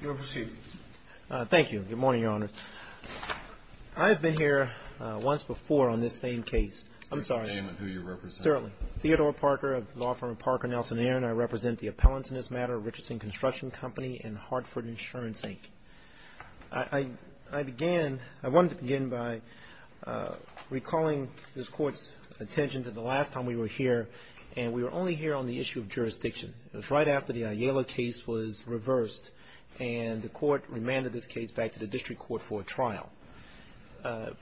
You are proceeding. Thank you. Good morning, Your Honors. I have been here once before on this same case. I'm sorry. Your name and who you represent. Certainly. Theodore Parker of law firm Parker Nelson Air and I represent the appellants in this matter, Richardson Construction Company and Hartford Insurance, Inc. I began, I wanted to begin by recalling this Court's attention to the last time we were here and we were only here on the issue of jurisdiction. It was right after the Ayala case was reversed and the Court remanded this case back to the District Court for a trial.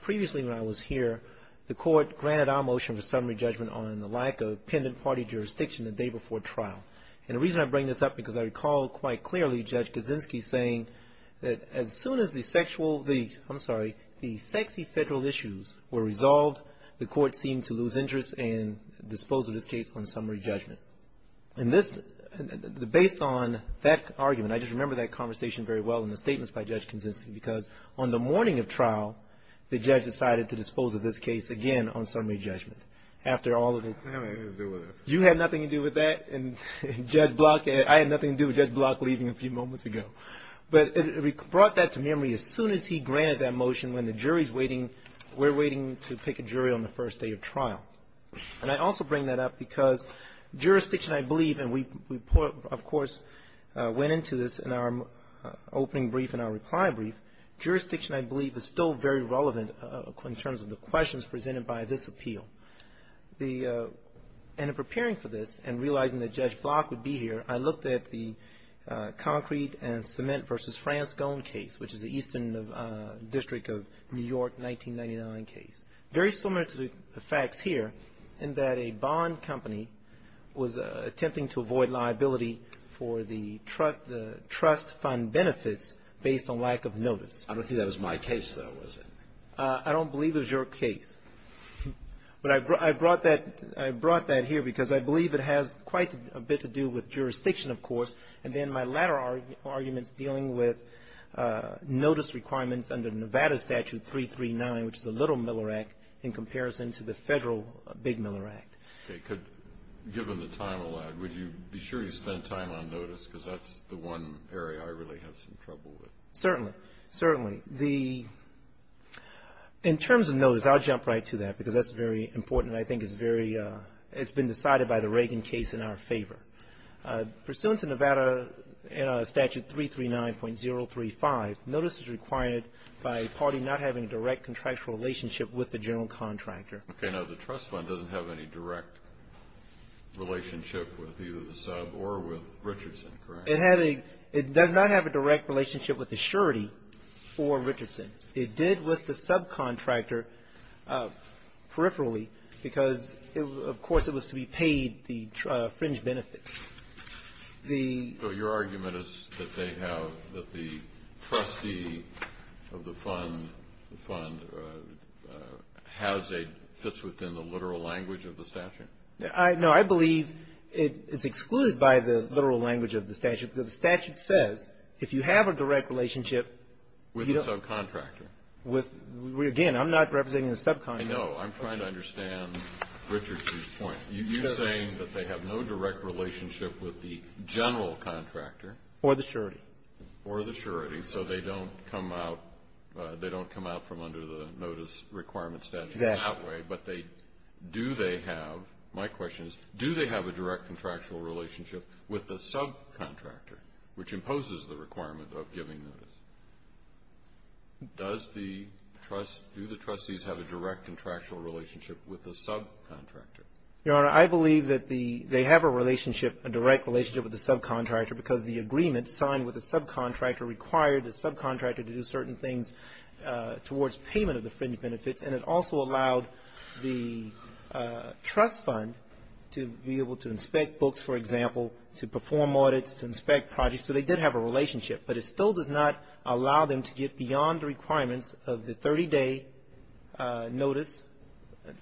Previously when I was here, the Court granted our motion for summary judgment on the lack of pendant party jurisdiction the day before trial. And the reason I bring this up because I recall quite clearly Judge Kaczynski saying that as soon as the sexual, I'm sorry, the sexy federal issues were resolved, the Court seemed to lose interest and dispose of this case on summary judgment. And this, based on that argument, I just remember that conversation very well in the statements by Judge Kaczynski because on the morning of trial, the Judge decided to dispose of this case again on summary judgment after all of it. You had nothing to do with that and Judge Block, I had nothing to do with that. But it brought that to memory as soon as he granted that motion when the jury's waiting, we're waiting to pick a jury on the first day of trial. And I also bring that up because jurisdiction, I believe, and we, of course, went into this in our opening brief and our reply brief. Jurisdiction, I believe, is still very relevant in terms of the questions presented by this appeal. The, and in preparing for this and realizing that the Cement v. Franz Scone case, which is the Eastern District of New York 1999 case, very similar to the facts here in that a bond company was attempting to avoid liability for the trust fund benefits based on lack of notice. I don't think that was my case, though, was it? I don't believe it was your case. But I brought that here because I believe it has quite a bit to do with jurisdiction, of course, and then my latter arguments dealing with notice requirements under Nevada Statute 339, which is the Little Miller Act, in comparison to the federal Big Miller Act. Okay. Could, given the time allowed, would you be sure you spent time on notice? Because that's the one area I really have some trouble with. Certainly. Certainly. The, in terms of notice, I'll jump right to that because that's very it's been decided by the Reagan case in our favor. Pursuant to Nevada Statute 339.035, notice is required by a party not having a direct contractual relationship with the general contractor. Okay. Now, the trust fund doesn't have any direct relationship with either the sub or with Richardson, correct? It had a, it does not have a direct relationship with the surety for Richardson. It did with the subcontractor peripherally because it was, of course, it was to be paid the fringe benefits. The So your argument is that they have, that the trustee of the fund, the fund has a, fits within the literal language of the statute? I, no, I believe it's excluded by the literal language of the statute because the statute says if you have a direct relationship With the subcontractor? With, again, I'm not representing the subcontractor. I know. I'm trying to understand Richardson's point. You're saying that they have no direct relationship with the general contractor. Or the surety. Or the surety. So they don't come out, they don't come out from under the notice requirement statute that way. Exactly. But they, do they have, my question is, do they have a direct contractual relationship with the subcontractor, which imposes the requirement of giving notice? Does the trust, do the trustees have a direct contractual relationship with the subcontractor? Your Honor, I believe that the, they have a relationship, a direct relationship with the subcontractor because the agreement signed with the subcontractor required the subcontractor to do certain things towards payment of the fringe benefits. And it also allowed the trust fund to be able to inspect books, for example, to perform audits, to inspect projects. So they did have a relationship. But it still does not allow them to get beyond the requirements of the 30-day notice,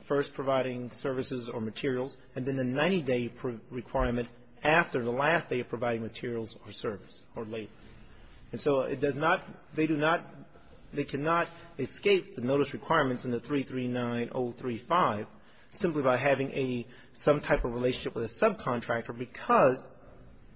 first providing services or materials, and then the 90-day requirement after the last day of providing materials or service or labor. And so it does not, they do not, they cannot escape the notice requirements in the 339035 simply by having a, some type of relationship with a subcontractor because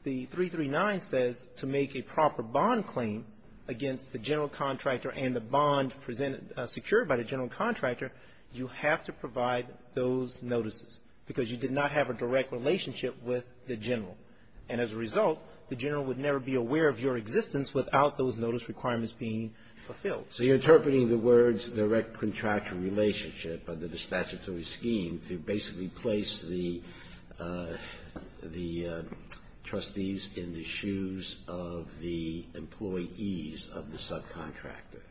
the 339 says to make a proper bond claim against the general contractor and the bond presented secure by the general contractor, you have to provide those notices because you did not have a direct relationship with the general. And as a result, the general would never be aware of your existence without those notice requirements being fulfilled. So you're interpreting the words direct contractual relationship under the statutory scheme to basically place the trustees in the shoes of the employees of the subcontractor.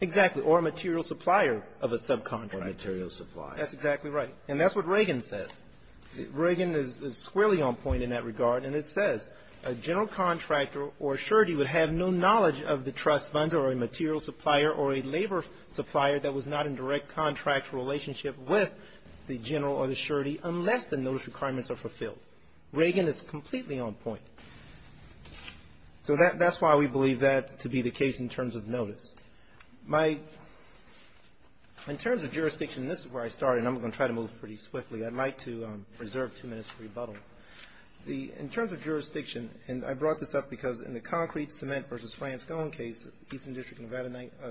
Exactly. Or a material supplier of a subcontractor. Or a material supplier. That's exactly right. And that's what Reagan says. Reagan is squarely on point in that regard. And it says, a general contractor or surety would have no knowledge of the trust funds or a material supplier or a labor supplier that was not in direct contractual relationship with the general or the surety unless the notice requirements are fulfilled. Reagan is completely on point. So that's why we believe that to be the case in terms of notice. My, in terms of jurisdiction, this is where I started and I'm going to try to move pretty I'd like to reserve two minutes for rebuttal. The, in terms of jurisdiction, and I brought this up because in the concrete cement versus Franz Kohn case, Eastern District of Nevada,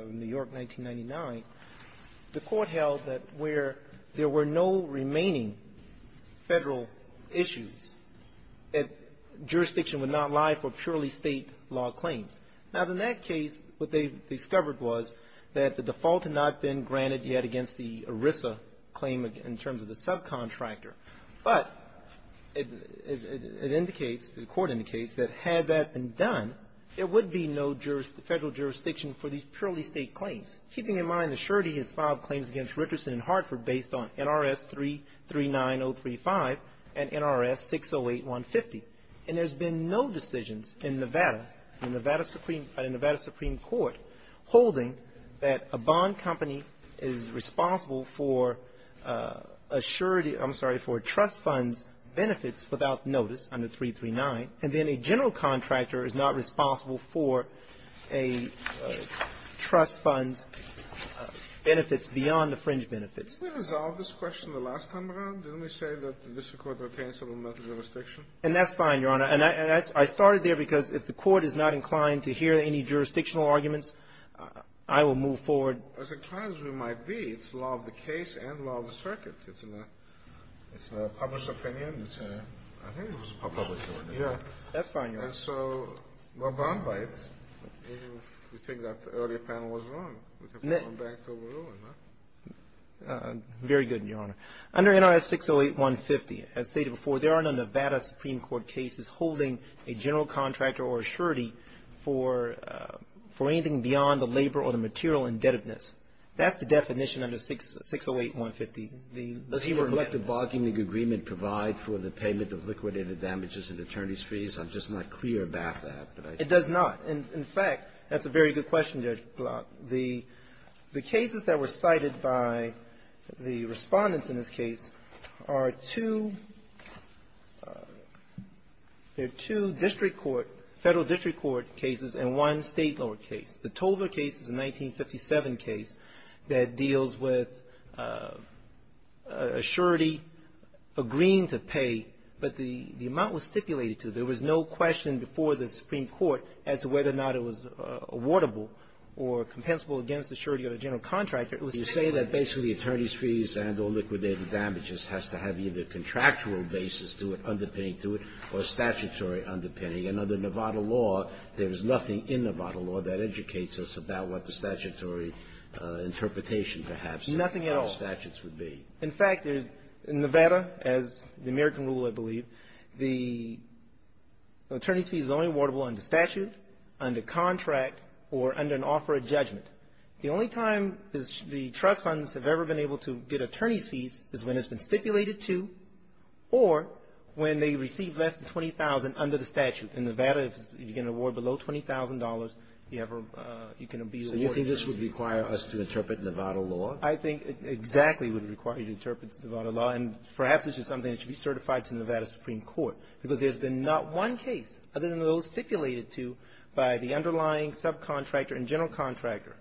New York, 1999, the court held that where there were no remaining Federal issues, that jurisdiction would not lie for purely State law claims. Now, in that case, what they discovered was that the default had not been granted yet against the ERISA claim in terms of the subcontractor. But it indicates, the court indicates, that had that been done, there would be no jurisdiction, Federal jurisdiction for these purely State claims. Keeping in mind the surety has filed claims against Richardson and Hartford based on NRS 339035 and NRS 608150. And there's been no decisions in Nevada, in Nevada Supreme, in Nevada Supreme Court holding that a bond company is responsible for a surety, I'm sorry, for a trust fund's benefits without notice under 339. And then a general contractor is not responsible for a trust fund's benefits beyond the fringe benefits. Did we resolve this question the last time around? Didn't we say that the district court retains some of the metal jurisdiction? And that's fine, Your Honor. And I started there because if the court is not inclined to hear any jurisdictional arguments, I will move forward. As inclined as we might be, it's law of the case and law of the circuit. It's not a published opinion, it's a, I think it was a published opinion. Yeah. That's fine, Your Honor. And so no bond rights, if you think that the earlier panel was wrong. We can move on back to Oberlin, right? Very good, Your Honor. Under NRS 608150, as stated before, there are no Nevada Supreme Court cases holding a general contractor or a surety for anything beyond the labor or the material indebtedness. That's the definition under 608150. The labor debt is the bond company that provides for the payment of liquidated damages and attorney's fees. I'm just not clear about that. It does not. In fact, that's a very good question, Judge Block. The cases that were cited by the Respondents in this case are two, they're two district court, Federal district court cases and one State lower case. The Tover case is a 1957 case that deals with a surety agreeing to pay, but the amount was stipulated to. There was no question before the Supreme Court as to whether or not it was awardable or compensable against the surety of the general contractor. It was stipulated. You say that basically attorney's fees and or liquidated damages has to have either contractual basis to it, underpinning to it, or statutory underpinning. And under Nevada law, there is nothing in Nevada law that educates us about what Nothing at all. In fact, in Nevada, as the American rule, I believe, the attorney's fees are only awardable under statute, under contract, or under an offer of judgment. The only time the trust funds have ever been able to get attorney's fees is when it's been stipulated to or when they receive less than $20,000 under the statute. In Nevada, if you get an award below $20,000, you have a you can be awarded So you think this would require us to interpret Nevada law? I think exactly it would require you to interpret Nevada law. And perhaps it's just something that should be certified to Nevada Supreme Court. Because there's been not one case other than those stipulated to by the underlying subcontractor and general contractor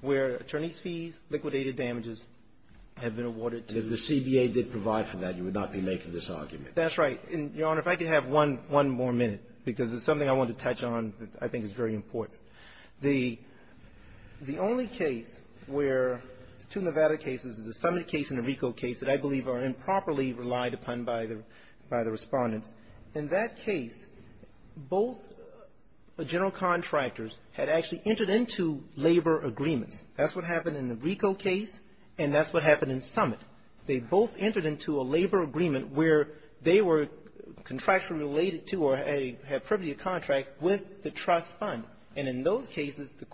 where attorney's fees, liquidated damages have been awarded to If the CBA did provide for that, you would not be making this argument. That's right. And, Your Honor, if I could have one more minute, because it's something I want to touch on that I think is very important. The only case where the two Nevada cases, the Summit case and the RICO case, that I believe are improperly relied upon by the Respondents, in that case, both general contractors had actually entered into labor agreements. That's what happened in the RICO case, and that's what happened in Summit. They both entered into a labor agreement where they were contractually related to or had a contract with the trust fund. And in those cases, the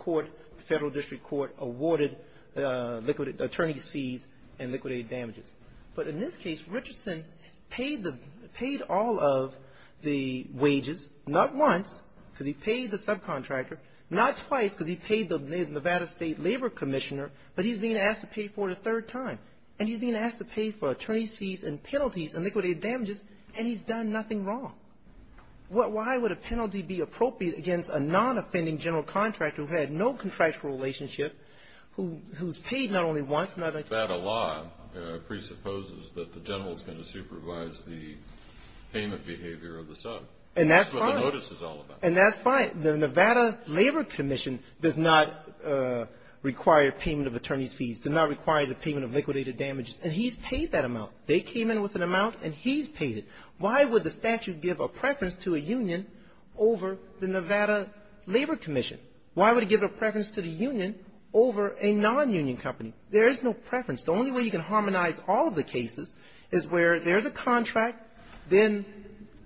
federal district court awarded attorney's fees and liquidated damages. But in this case, Richardson paid all of the wages, not once because he paid the subcontractor, not twice because he paid the Nevada State Labor Commissioner, but he's being asked to pay for it a third time. And he's being asked to pay for attorney's fees and penalties and liquidated damages, and he's done nothing wrong. Why would a penalty be appropriate against a non-offending general contractor who had no contractual relationship, who's paid not only once, not a third time? That law presupposes that the general is going to supervise the payment behavior of the sub. And that's fine. That's what the notice is all about. And that's fine. The Nevada Labor Commission does not require payment of attorney's fees, does not require the payment of liquidated damages. And he's paid that amount. They came in with an amount, and he's paid it. Why would the statute give a preference to a union over the Nevada Labor Commission? Why would it give a preference to the union over a non-union company? There is no preference. The only way you can harmonize all of the cases is where there's a contract, then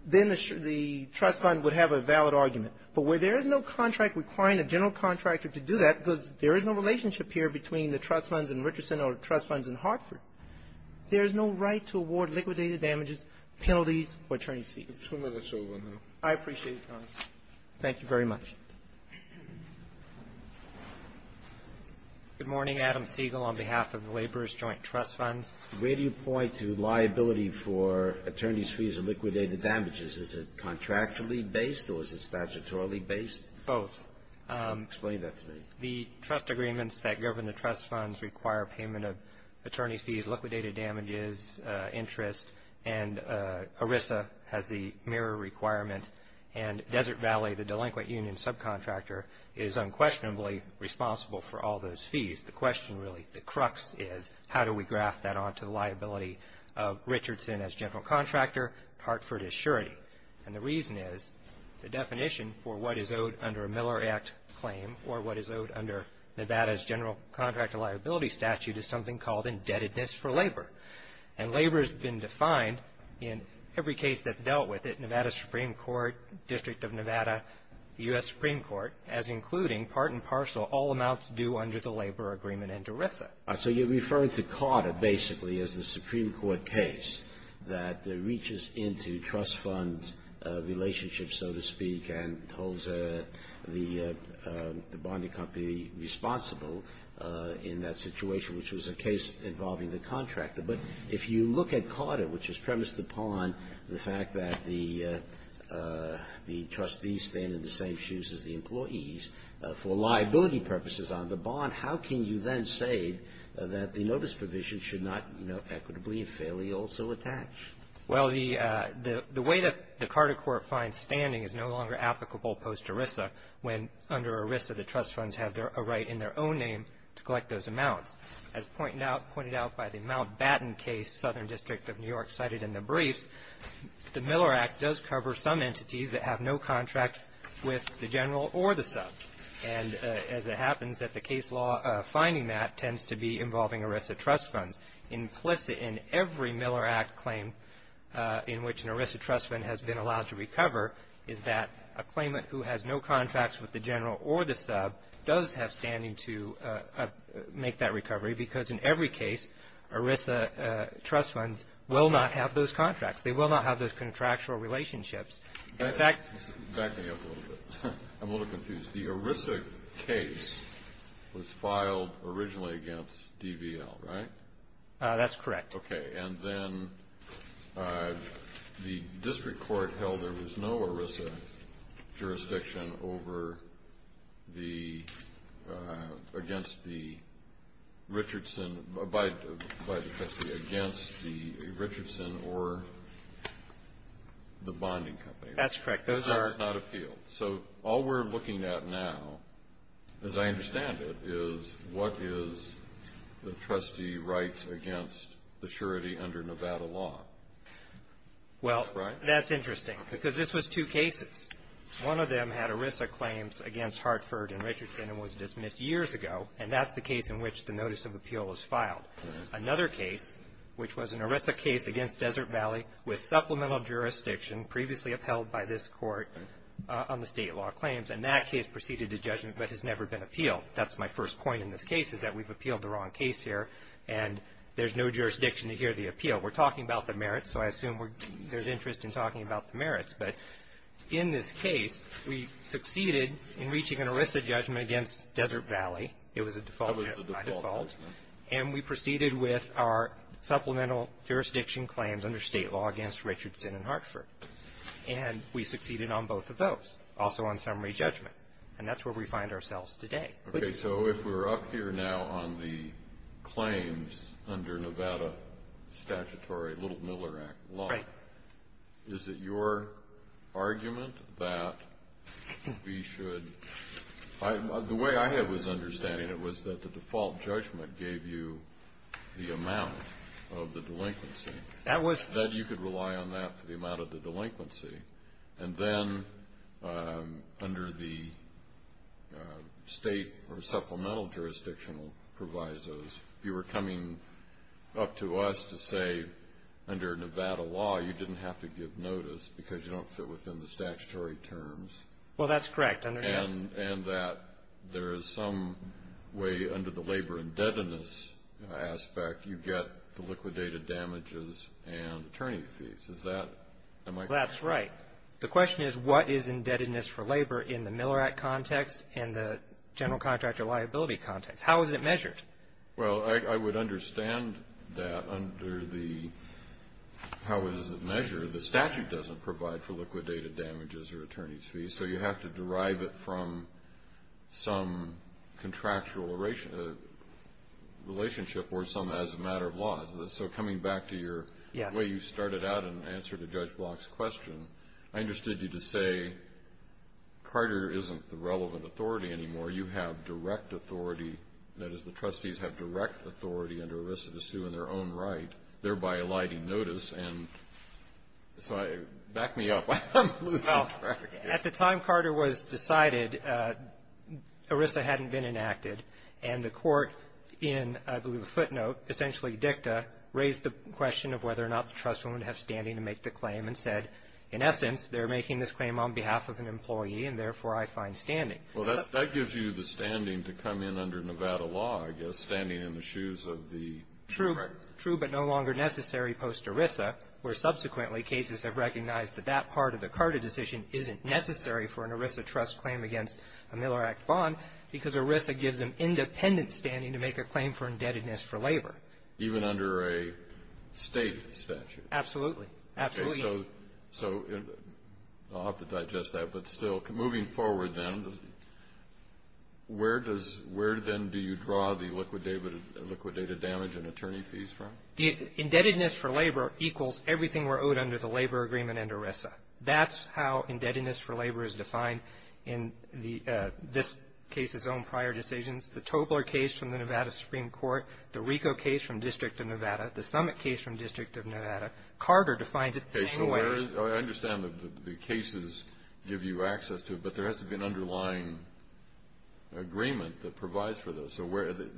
the trust fund would have a valid argument. But where there is no contract requiring a general contractor to do that, because there is no relationship here between the trust funds in Richardson or the trust funds, there is no right to award liquidated damages, penalties, or attorney's fees. I appreciate your comments. Thank you very much. Good morning. Adam Siegel on behalf of the Laborers Joint Trust Funds. Where do you point to liability for attorney's fees or liquidated damages? Is it contractually based or is it statutorily based? Both. Explain that to me. The trust agreements that govern the trust funds require payment of attorney's fees, liquidated damages, interest, and ERISA has the mirror requirement, and Desert Valley, the delinquent union subcontractor, is unquestionably responsible for all those fees. The question really, the crux is how do we graph that onto the liability of Richardson as general contractor, Hartford as surety? And the reason is the definition for what is owed under a Miller Act claim or what is owed under Nevada's general contractor liability statute is something called indebtedness for labor, and labor has been defined in every case that's dealt with at Nevada Supreme Court, District of Nevada, U.S. Supreme Court as including part and parcel all amounts due under the labor agreement and ERISA. So you're referring to Carter basically as the Supreme Court case that reaches into trust fund relationships, so to speak, and holds the bonding company responsible in that situation, which was a case involving the contractor. But if you look at Carter, which is premised upon the fact that the trustees stand in the same shoes as the employees for liability purposes on the bond, how can you then say that the notice provision should not, you know, equitably and fairly also attach? Well, the way that the Carter court finds standing is no longer applicable post-ERISA when under ERISA the trust funds have a right in their own name to collect those amounts. As pointed out by the Mountbatten case, Southern District of New York cited in the briefs, the Miller Act does cover some entities that have no contracts with the general or the subs, and as it happens that the case law finding that tends to be involving ERISA trust funds. Implicit in every Miller Act claim in which an ERISA trust fund has been allowed to recover is that a claimant who has no contracts with the general or the sub does have standing to make that recovery because in every case, ERISA trust funds will not have those contracts. They will not have those contractual relationships. In fact... Back me up a little bit. I'm a little confused. The ERISA case was filed originally against DVL, right? That's correct. Okay. And then the district court held there was no ERISA jurisdiction over the, against the Richardson, by the trustee, against the Richardson or the bonding company. That's correct. Those are... That's not appealed. So all we're looking at now, as I understand it, is what is the trustee right against the surety under Nevada law, right? Well, that's interesting because this was two cases. One of them had ERISA claims against Hartford and Richardson and was dismissed years ago. And that's the case in which the notice of appeal was filed. Another case, which was an ERISA case against Desert Valley with supplemental jurisdiction previously upheld by this court on the state law claims. And that case proceeded to judgment but has never been appealed. That's my first point in this case is that we've appealed the wrong case here and there's no jurisdiction to hear the appeal. We're talking about the merits, so I assume there's interest in talking about the merits. But in this case, we succeeded in reaching an ERISA judgment against Desert Valley. It was a default. That was the default judgment. And we proceeded with our supplemental jurisdiction claims under state law against Richardson and Hartford. And we succeeded on both of those, also on summary judgment. And that's where we find ourselves today. Okay. So if we're up here now on the claims under Nevada statutory Little Miller Act law, is it your argument that we should the way I had was understanding it was that the default judgment gave you the amount of the delinquency. That was. That you could rely on that for the amount of the delinquency. And then under the state or supplemental jurisdictional provisos, you were coming up to us to say, under Nevada law, you didn't have to give notice because you don't fit within the statutory terms. Well, that's correct. And that there is some way under the labor indebtedness aspect, you get the liquidated damages and attorney fees. Is that? That's right. The question is, what is indebtedness for labor in the Miller Act context and the general contractor liability context? How is it measured? Well, I would understand that under the how is it measured. The statute doesn't provide for liquidated damages or attorney fees. So you have to derive it from some contractual relationship or some as a matter of law. So coming back to your way you started out in answer to Judge Block's question, I understood you to say, Carter isn't the relevant authority anymore. You have direct authority. That is, the trustees have direct authority under ERISA to sue in their own right, thereby eliding notice. And so back me up. I'm losing track here. Well, at the time Carter was decided, ERISA hadn't been enacted. And the court in, I believe, a footnote, essentially dicta, raised the question of whether or not the trustee would have standing to make the claim and said, in essence, they're making this claim on behalf of an employee, and therefore I find standing. Well, that gives you the standing to come in under Nevada law, I guess, standing in the shoes of the contractor. True, but no longer necessary post ERISA, where subsequently cases have recognized that that part of the Carter decision isn't necessary for an ERISA trust claim against a Miller Act bond, because ERISA gives an independent standing to make a claim for indebtedness for labor. Even under a state statute? Absolutely. Absolutely. So, I'll have to digest that, but still, moving forward then, where does, where then do you draw the liquidated damage and attorney fees from? The indebtedness for labor equals everything we're owed under the labor agreement under ERISA. That's how indebtedness for labor is defined in the, this case's own prior decisions, the Tobler case from the Nevada Supreme Court, the Rico case from District of Nevada, the Summit case from District of Nevada. Carter defines it the same way. I understand that the cases give you access to it, but there has to be an underlying agreement that provides for those. So, where the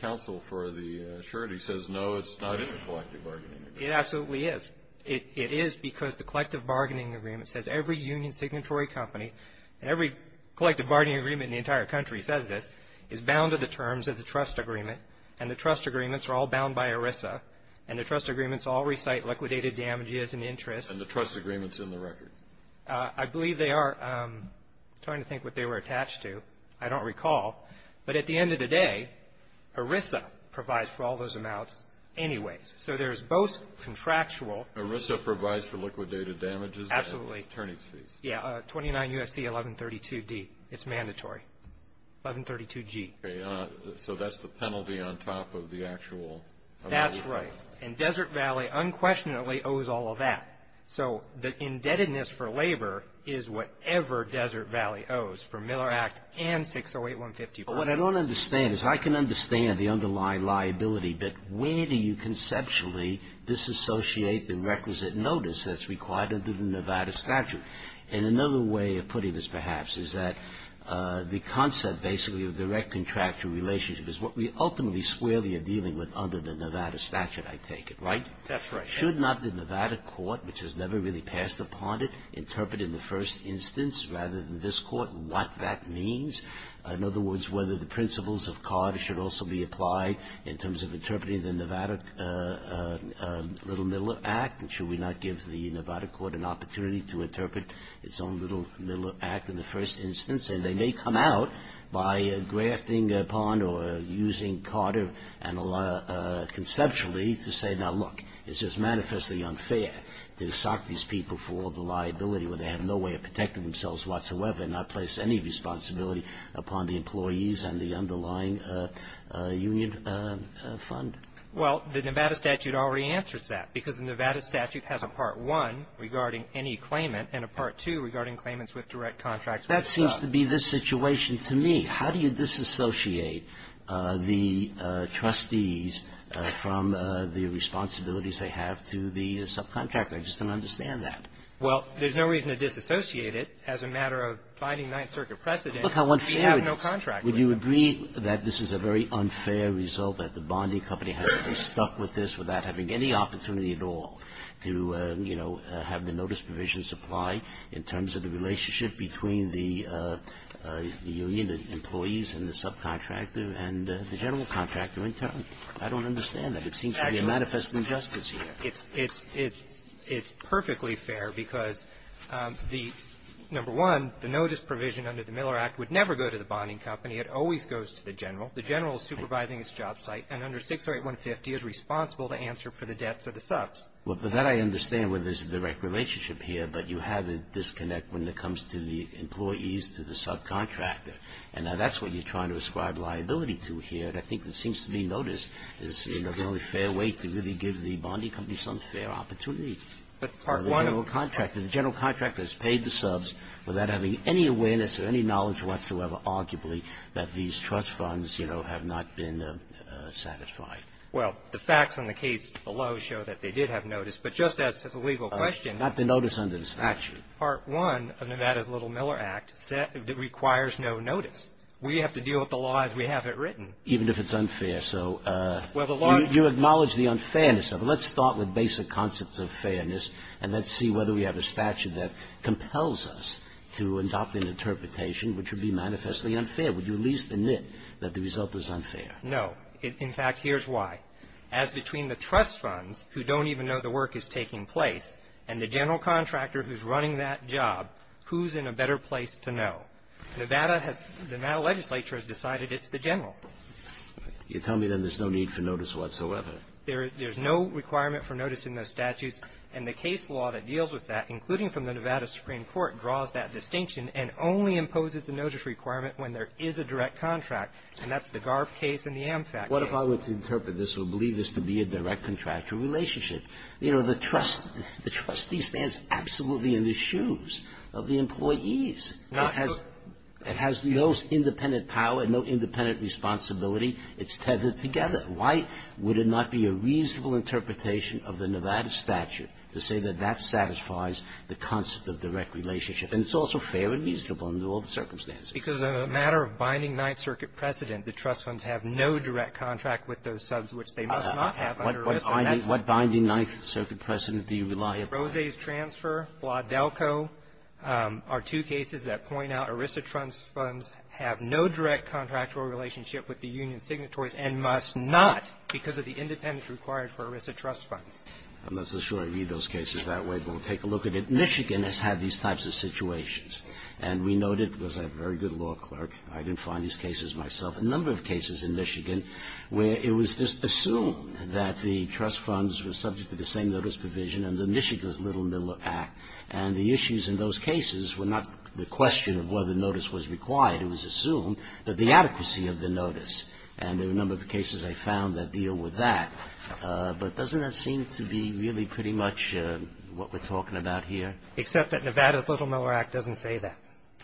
counsel for the surety says, no, it's not in the collective bargaining agreement. It absolutely is. It is because the collective bargaining agreement says every union signatory company, and every collective bargaining agreement in the entire country says this, is bound to the terms of the trust agreement, and the trust agreements are all bound by ERISA, and the trust agreements all recite liquidated damage as an interest. And the trust agreement's in the record. I believe they are. I'm trying to think what they were attached to. I don't recall. But at the end of the day, ERISA provides for all those amounts anyways. So, there's both contractual. ERISA provides for liquidated damages and attorney's fees. Yeah, 29 U.S.C. 1132D. It's mandatory. 1132G. So, that's the penalty on top of the actual. That's right. And Desert Valley unquestionably owes all of that. So, the indebtedness for labor is whatever Desert Valley owes for Miller Act and 608-150. But what I don't understand is I can understand the underlying liability, but where do you conceptually disassociate the requisite notice that's required under the Nevada statute? And another way of putting this perhaps is that the concept basically of direct contractual relationship is what we ultimately squarely are dealing with under the Nevada statute, I take it, right? That's right. Should not the Nevada court, which has never really passed upon it, interpret in the first instance rather than this court what that means? In other words, whether the principles of CARD should also be applied in terms of interpreting the Nevada Little Miller Act, and should we not give the Nevada court an opportunity to interpret its own Little Miller Act in the first instance? And they may come out by grafting upon or using CARD conceptually to say, now, look, it's just manifestly unfair to sock these people for all the liability where they have no way of protecting themselves whatsoever and not place any employees on the underlying union fund. Well, the Nevada statute already answers that, because the Nevada statute has a Part I regarding any claimant and a Part II regarding claimants with direct contracts. That seems to be the situation to me. How do you disassociate the trustees from the responsibilities they have to the subcontractor? I just don't understand that. Well, there's no reason to disassociate it as a matter of finding Ninth Circuit precedent. Look how unfair it is. Would you agree that this is a very unfair result, that the bonding company has to be stuck with this without having any opportunity at all to, you know, have the notice provisions apply in terms of the relationship between the union employees and the subcontractor and the general contractor in turn? I don't understand that. It seems to be a manifest injustice here. It's perfectly fair, because, number one, the notice provision under the Miller Act would never go to the bonding company. It always goes to the general. The general is supervising his job site, and under 608-150 is responsible to answer for the debts of the subs. Well, but that I understand where there's a direct relationship here, but you have a disconnect when it comes to the employees to the subcontractor. And now that's what you're trying to ascribe liability to here. And I think it seems to me notice is, you know, the only fair way to really give the bonding company some fair opportunity. But Part I of the contract, the general contractor has paid the subs without having any awareness or any knowledge whatsoever, arguably, that these trust funds, you know, have not been satisfied. Well, the facts on the case below show that they did have notice. But just as to the legal question of the notice under the statute, Part I of Nevada's Little Miller Act requires no notice. We have to deal with the law as we have it written. Even if it's unfair. So you acknowledge the unfairness of it. Let's start with basic concepts of fairness, and let's see whether we have a statute that compels us to adopt an interpretation which would be manifestly unfair. Would you at least admit that the result is unfair? No. In fact, here's why. As between the trust funds, who don't even know the work is taking place, and the general contractor who's running that job, who's in a better place to know? Nevada has the Nevada legislature has decided it's the general. You're telling me then there's no need for notice whatsoever? There's no requirement for notice in those statutes. And the case law that deals with that, including from the Nevada Supreme Court, draws that distinction and only imposes the notice requirement when there is a direct contract. And that's the Garf case and the AmFac case. What if I were to interpret this or believe this to be a direct contractor relationship? You know, the trustee stands absolutely in the shoes of the employees. It has no independent power and no independent responsibility. It's tethered together. Why would it not be a reasonable interpretation of the Nevada statute to say that that satisfies the concept of direct relationship? And it's also fair and reasonable under all the circumstances. Because on the matter of binding Ninth Circuit precedent, the trust funds have no direct contract with those subs, which they must not have under ERISA. What binding Ninth Circuit precedent do you rely upon? Rose's transfer, Blodelco are two cases that point out ERISA trust funds have no direct contractual relationship with the union signatories and must not because of the independence required for ERISA trust funds. I'm not so sure I read those cases that way, but we'll take a look at it. Michigan has had these types of situations. And we noted, because I'm a very good law clerk, I can find these cases myself, a number of cases in Michigan where it was assumed that the trust funds were subject to the same notice provision under Michigan's Little Miller Act. And the issues in those cases were not the question of whether notice was required. It was assumed that the adequacy of the notice. And there were a number of cases I found that deal with that. But doesn't that seem to be really pretty much what we're talking about here? Except that Nevada's Little Miller Act doesn't say that.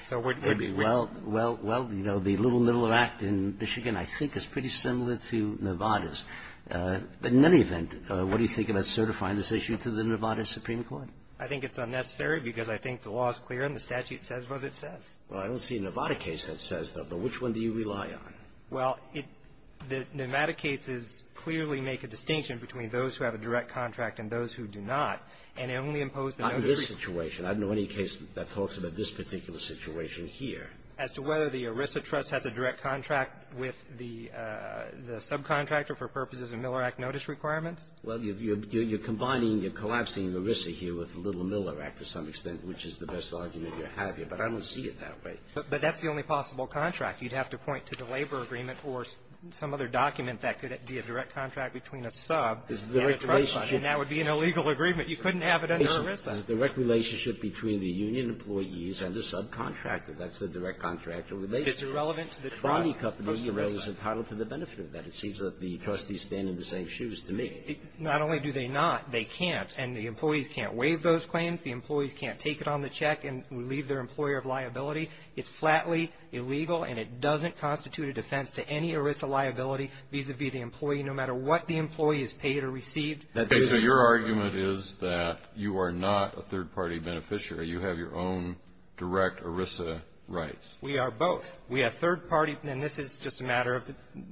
So we're going to be really --. Well, you know, the Little Miller Act in Michigan I think is pretty similar to Nevada's. But in any event, what do you think about certifying this issue to the Nevada Supreme Court? I think it's unnecessary because I think the law is clear and the statute says what it says. Well, I don't see a Nevada case that says that. But which one do you rely on? Well, the Nevada cases clearly make a distinction between those who have a direct contract and those who do not. And they only impose the notice. On this situation, I don't know any case that talks about this particular situation here. As to whether the ERISA trust has a direct contract with the subcontractor for purposes of Miller Act notice requirements? Well, you're combining, you're collapsing ERISA here with Little Miller Act to some extent, which is the best argument you have here. But I don't see it that way. But that's the only possible contract. You'd have to point to the labor agreement or some other document that could be a direct contract between a sub and a trust fund. And that would be an illegal agreement. You couldn't have it under ERISA. It's a direct relationship between the union employees and the subcontractor. That's the direct contract. It's irrelevant to the trust. The Tronde Company is entitled to the benefit of that. It seems that the trustees stand in the same shoes to me. Not only do they not, they can't. And the employees can't waive those claims. The employees can't take it on the check and leave their employer of liability. It's flatly illegal. And it doesn't constitute a defense to any ERISA liability vis-a-vis the employee, no matter what the employee has paid or received. Okay, so your argument is that you are not a third-party beneficiary. You have your own direct ERISA rights. We are both. We have third-party, and this is just a matter of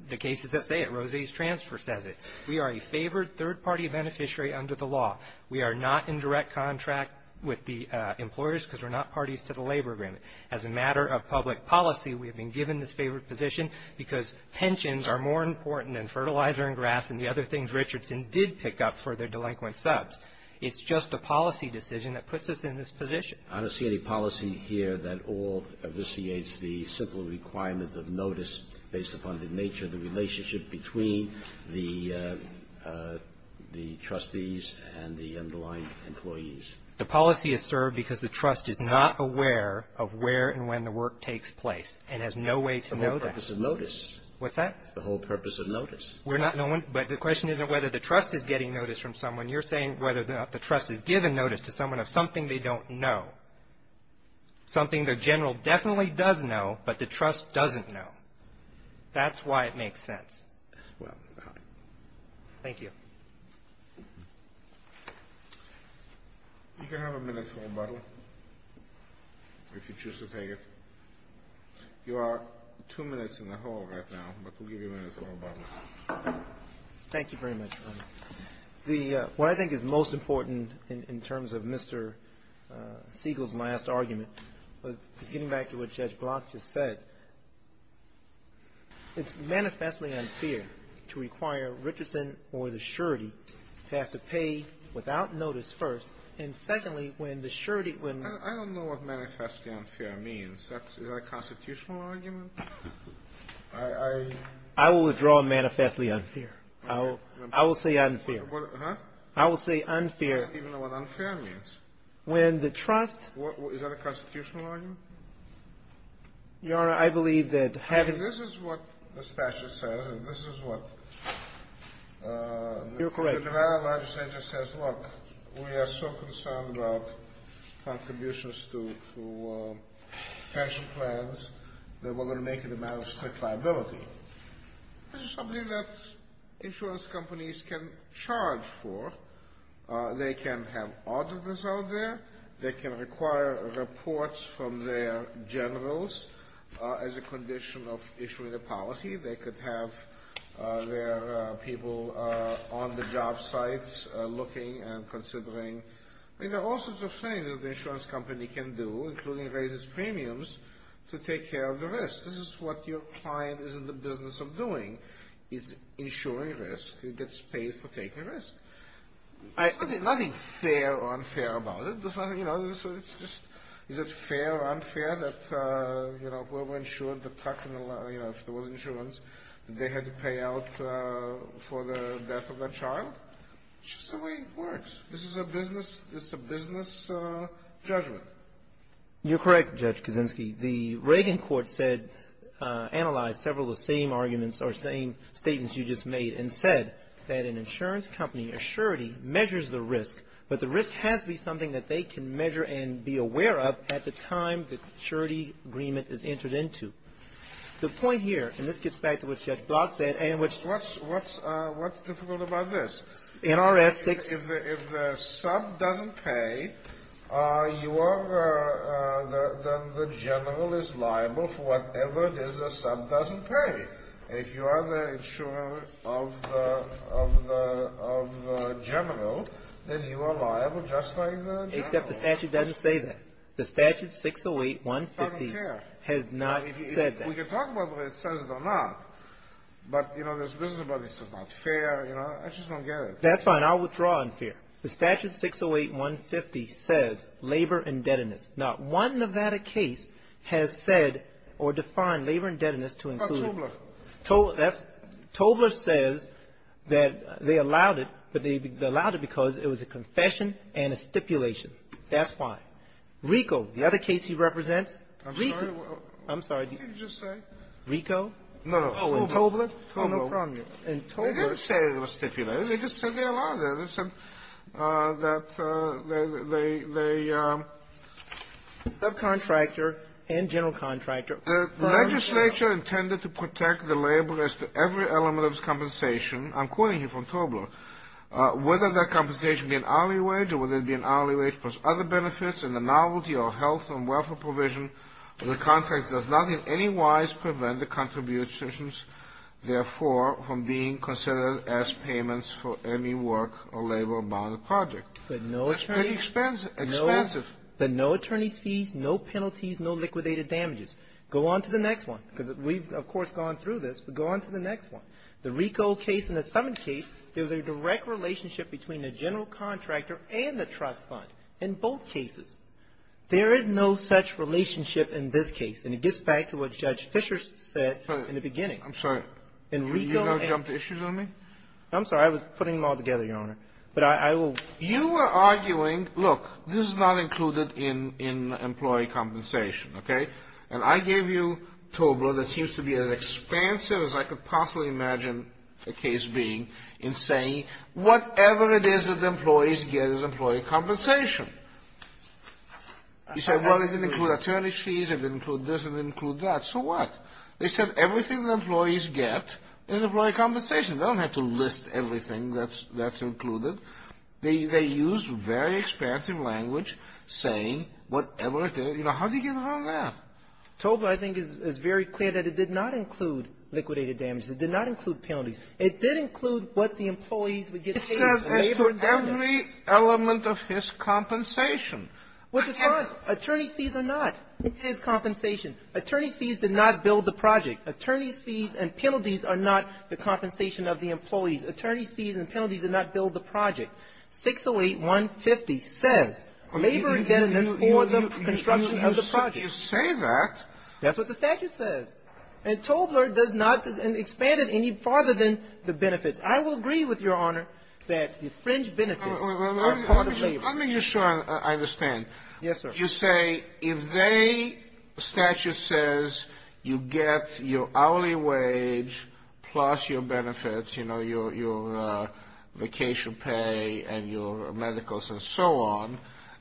the cases that say it. Rose's transfer says it. We are a favored third-party beneficiary under the law. We are not in direct contract with the employers because we're not parties to the labor agreement. As a matter of public policy, we have been given this favored position because pensions are more important than fertilizer and grass and the other things Richardson did pick up for their delinquent subs. It's just a policy decision that puts us in this position. I don't see any policy here that all abstracts the simple requirement of notice based upon the nature of the relationship between the trustees and the underlying employees. The policy is served because the trust is not aware of where and when the work takes place and has no way to know that. It's the whole purpose of notice. What's that? It's the whole purpose of notice. We're not knowing. But the question isn't whether the trust is getting notice from someone. You're saying whether the trust is giving notice to someone of something they don't know, something the general definitely does know, but the trust doesn't know. That's why it makes sense. Well, thank you. You can have a minute for rebuttal if you choose to take it. You are two minutes in the hall right now, but we'll give you a minute for rebuttal. Thank you very much. What I think is most important in terms of Mr. Siegel's last argument is getting back to what Judge Block just said. It's manifestly unfair to require Richardson or the surety to have to pay without notice first. And secondly, when the surety, when I don't know what manifestly unfair means, that's is that a constitutional argument? I will withdraw manifestly unfair. I will say unfair. I will say unfair. I don't even know what unfair means. When the trust. Is that a constitutional argument? Your Honor, I believe that this is what the statute says, and this is what you're correct. The federal legislature says, look, we are so concerned about contributions to pension plans that we're going to make it a matter of strict liability. This is something that insurance companies can charge for. They can have auditors out there. They can require reports from their generals as a condition of issuing a policy. They could have their people on the job sites looking and considering. I mean, there are all sorts of things that the insurance company can do, including raises premiums to take care of the risk. This is what your client is in the business of doing, is insuring risk. It gets paid for taking risk. Nothing fair or unfair about it. You know, it's just is it fair or unfair that, you know, we're insured the tax and, you know, if there was insurance, they had to pay out for the death of their child. It's just the way it works. This is a business, it's a business judgment. You're correct, Judge Kaczynski. The Reagan court said, analyzed several of the same arguments or same statements you just made and said that an insurance company, a surety, measures the risk, but the risk has to be something that they can measure and be aware of at the time the surety agreement is entered into. The point here, and this gets back to what Judge Blatt said, and which what's what's what's difficult about this. NRS 6. If the sub doesn't pay, you are the general is liable for whatever it is the sub doesn't pay. If you are the insurer of the general, then you are liable just like the general except the statute doesn't say that. The statute 608-150 has not said that. We can talk about whether it says it or not, but, you know, there's business about this that's not fair, you know, I just don't get it. That's fine. I'll withdraw in fear. The statute 608-150 says labor indebtedness. Not one Nevada case has said or defined labor indebtedness to include. Not Tobler. Tobler says that they allowed it, but they allowed it because it was a confession and a stipulation. That's fine. RICO, the other case he represents. I'm sorry, what did you just say? RICO? No, no. Oh, and Tobler? Oh, no problem. And Tobler. They didn't say it was stipulated. They just said they allowed it. They said that they subcontractor and general contractor. The legislature intended to protect the laborers to every element of this compensation. I'm quoting here from Tobler. Whether that compensation be an hourly wage or whether it be an hourly wage plus other benefits and the novelty of health and welfare provision, the contract does not in any wise prevent the contributor's therefore from being considered as payments for any work or labor-bound project. But no attorney's fees, no penalties, no liquidated damages. Go on to the next one because we've, of course, gone through this, but go on to the next one. The RICO case and the Summon case, there's a direct relationship between the general contractor and the trust fund in both cases. There is no such relationship in this case. And it gets back to what Judge Fischer said in the beginning. I'm sorry. In RICO and you're going to jump to issues on me? I'm sorry. I was putting them all together, Your Honor. But I will. You were arguing, look, this is not included in employee compensation, okay? And I gave you TOBRA that seems to be as expansive as I could possibly imagine the case being in saying whatever it is that the employees get is employee compensation. You said, well, does it include attorney's fees? Does it include this? Does it include that? So what? They said everything the employees get is employee compensation. They don't have to list everything that's included. They used very expansive language saying whatever it is. You know, how do you get around that? TOBRA, I think, is very clear that it did not include liquidated damages. It did not include penalties. It did include what the employees would get paid. It says every element of his compensation. Which is fine. Attorney's fees are not his compensation. Attorney's fees did not build the project. Attorney's fees and penalties are not the compensation of the employees. Attorney's fees and penalties did not build the project. 608-150 says labor indebtedness for the construction of the project. You say that. That's what the statute says. And Tobler does not expand it any farther than the benefits. I will agree with your honor that the fringe benefits are part of labor. Let me just show I understand. Yes, sir. You say if they, statute says, you get your hourly wage plus your benefits, you know, your vacation pay and your medicals and so on,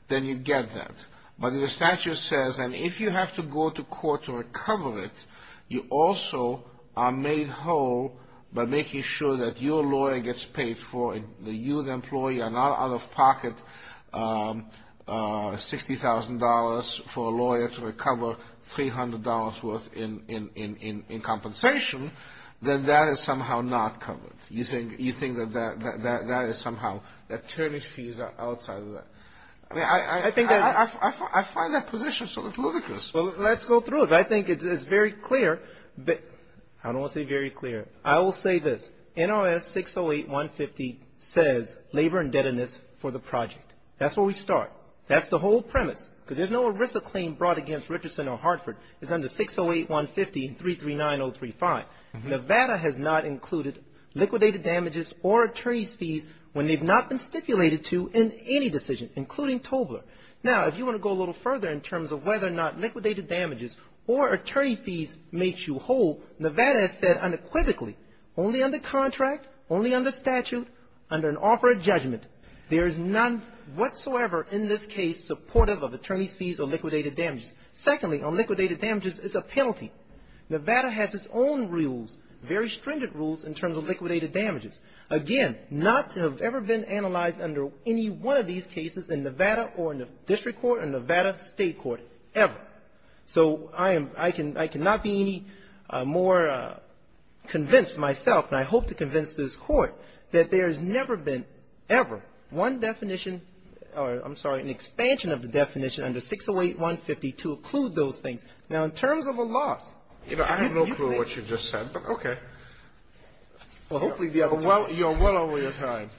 then you get that. But the statute says, and if you have to go to court to recover it, you also are made whole by making sure that your lawyer gets paid for it. The youth employee, an out-of-pocket $60,000 for a lawyer to recover $300 worth in compensation, then that is somehow not covered. You think you think that that is somehow that attorney's fees are outside of that. I mean, I think I find that position sort of ludicrous. Well, let's go through it. I think it's very clear. But I don't want to say very clear. I will say this. NRS 608-150 says labor indebtedness for the project. That's where we start. That's the whole premise, because there's no ERISA claim brought against Richardson or Hartford. It's under 608-150 and 339-035. Nevada has not included liquidated damages or attorney's fees when they've not been stipulated to in any decision, including Tobler. Now, if you want to go a little further in terms of whether or not liquidated damages or attorney fees makes you whole, Nevada has said unequivocally, only under contract, only under statute, under an offer of judgment. There is none whatsoever in this case supportive of attorney's fees or liquidated damages. Secondly, on liquidated damages, it's a penalty. Nevada has its own rules, very stringent rules, in terms of liquidated damages. Again, not to have ever been analyzed under any one of these cases in Nevada or in the district court or Nevada state court ever. So I am — I cannot be any more convinced myself, and I hope to convince this Court, that there has never been ever one definition — or, I'm sorry, an expansion of the definition under 608-150 to include those things. Now, in terms of a loss — You know, I have no clue what you just said, but okay. Well, hopefully the other time — Well, you're well over your time.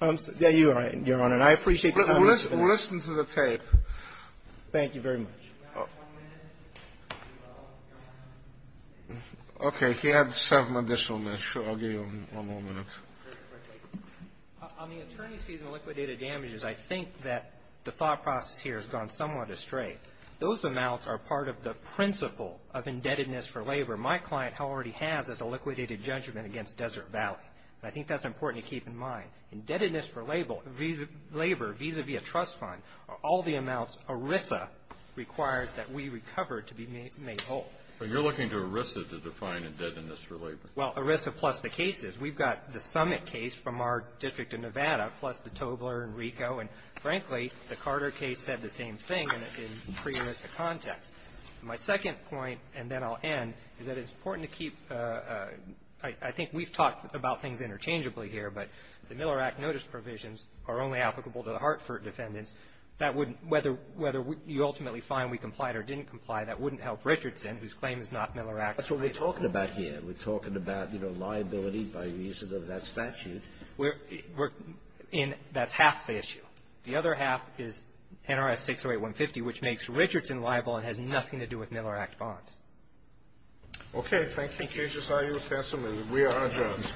I'm — yeah, you're right, Your Honor. And I appreciate the time that you've given me. Listen to the tape. Thank you very much. Okay. He had seven additional minutes. Sure. I'll give you one more minute. On the attorney's fees and liquidated damages, I think that the thought process here has gone somewhat astray. Those amounts are part of the principle of indebtedness for labor. My client already has as a liquidated judgment against Desert Valley, and I think that's important to keep in mind. Indebtedness for labor vis-a-vis a trust fund are all the amounts ERISA requires that we recover to be made whole. But you're looking to ERISA to define indebtedness for labor. Well, ERISA plus the cases. We've got the Summit case from our district of Nevada plus the Tobler and Rico. And frankly, the Carter case said the same thing in pre-ERISA context. My second point, and then I'll end, is that it's important to keep — I think we've talked about things interchangeably here, but the Miller Act notice provisions are only applicable to the Hartford defendants. That wouldn't — whether you ultimately find we complied or didn't comply, that wouldn't help Richardson, whose claim is not Miller Act. That's what we're talking about here. We're talking about, you know, liability by reason of that statute. We're — and that's half the issue. The other half is NRS 608-150, which makes Richardson liable and has nothing to do with Miller Act bonds. Okay. Thank you, Judge Isayu-Fenselman. We are adjourned.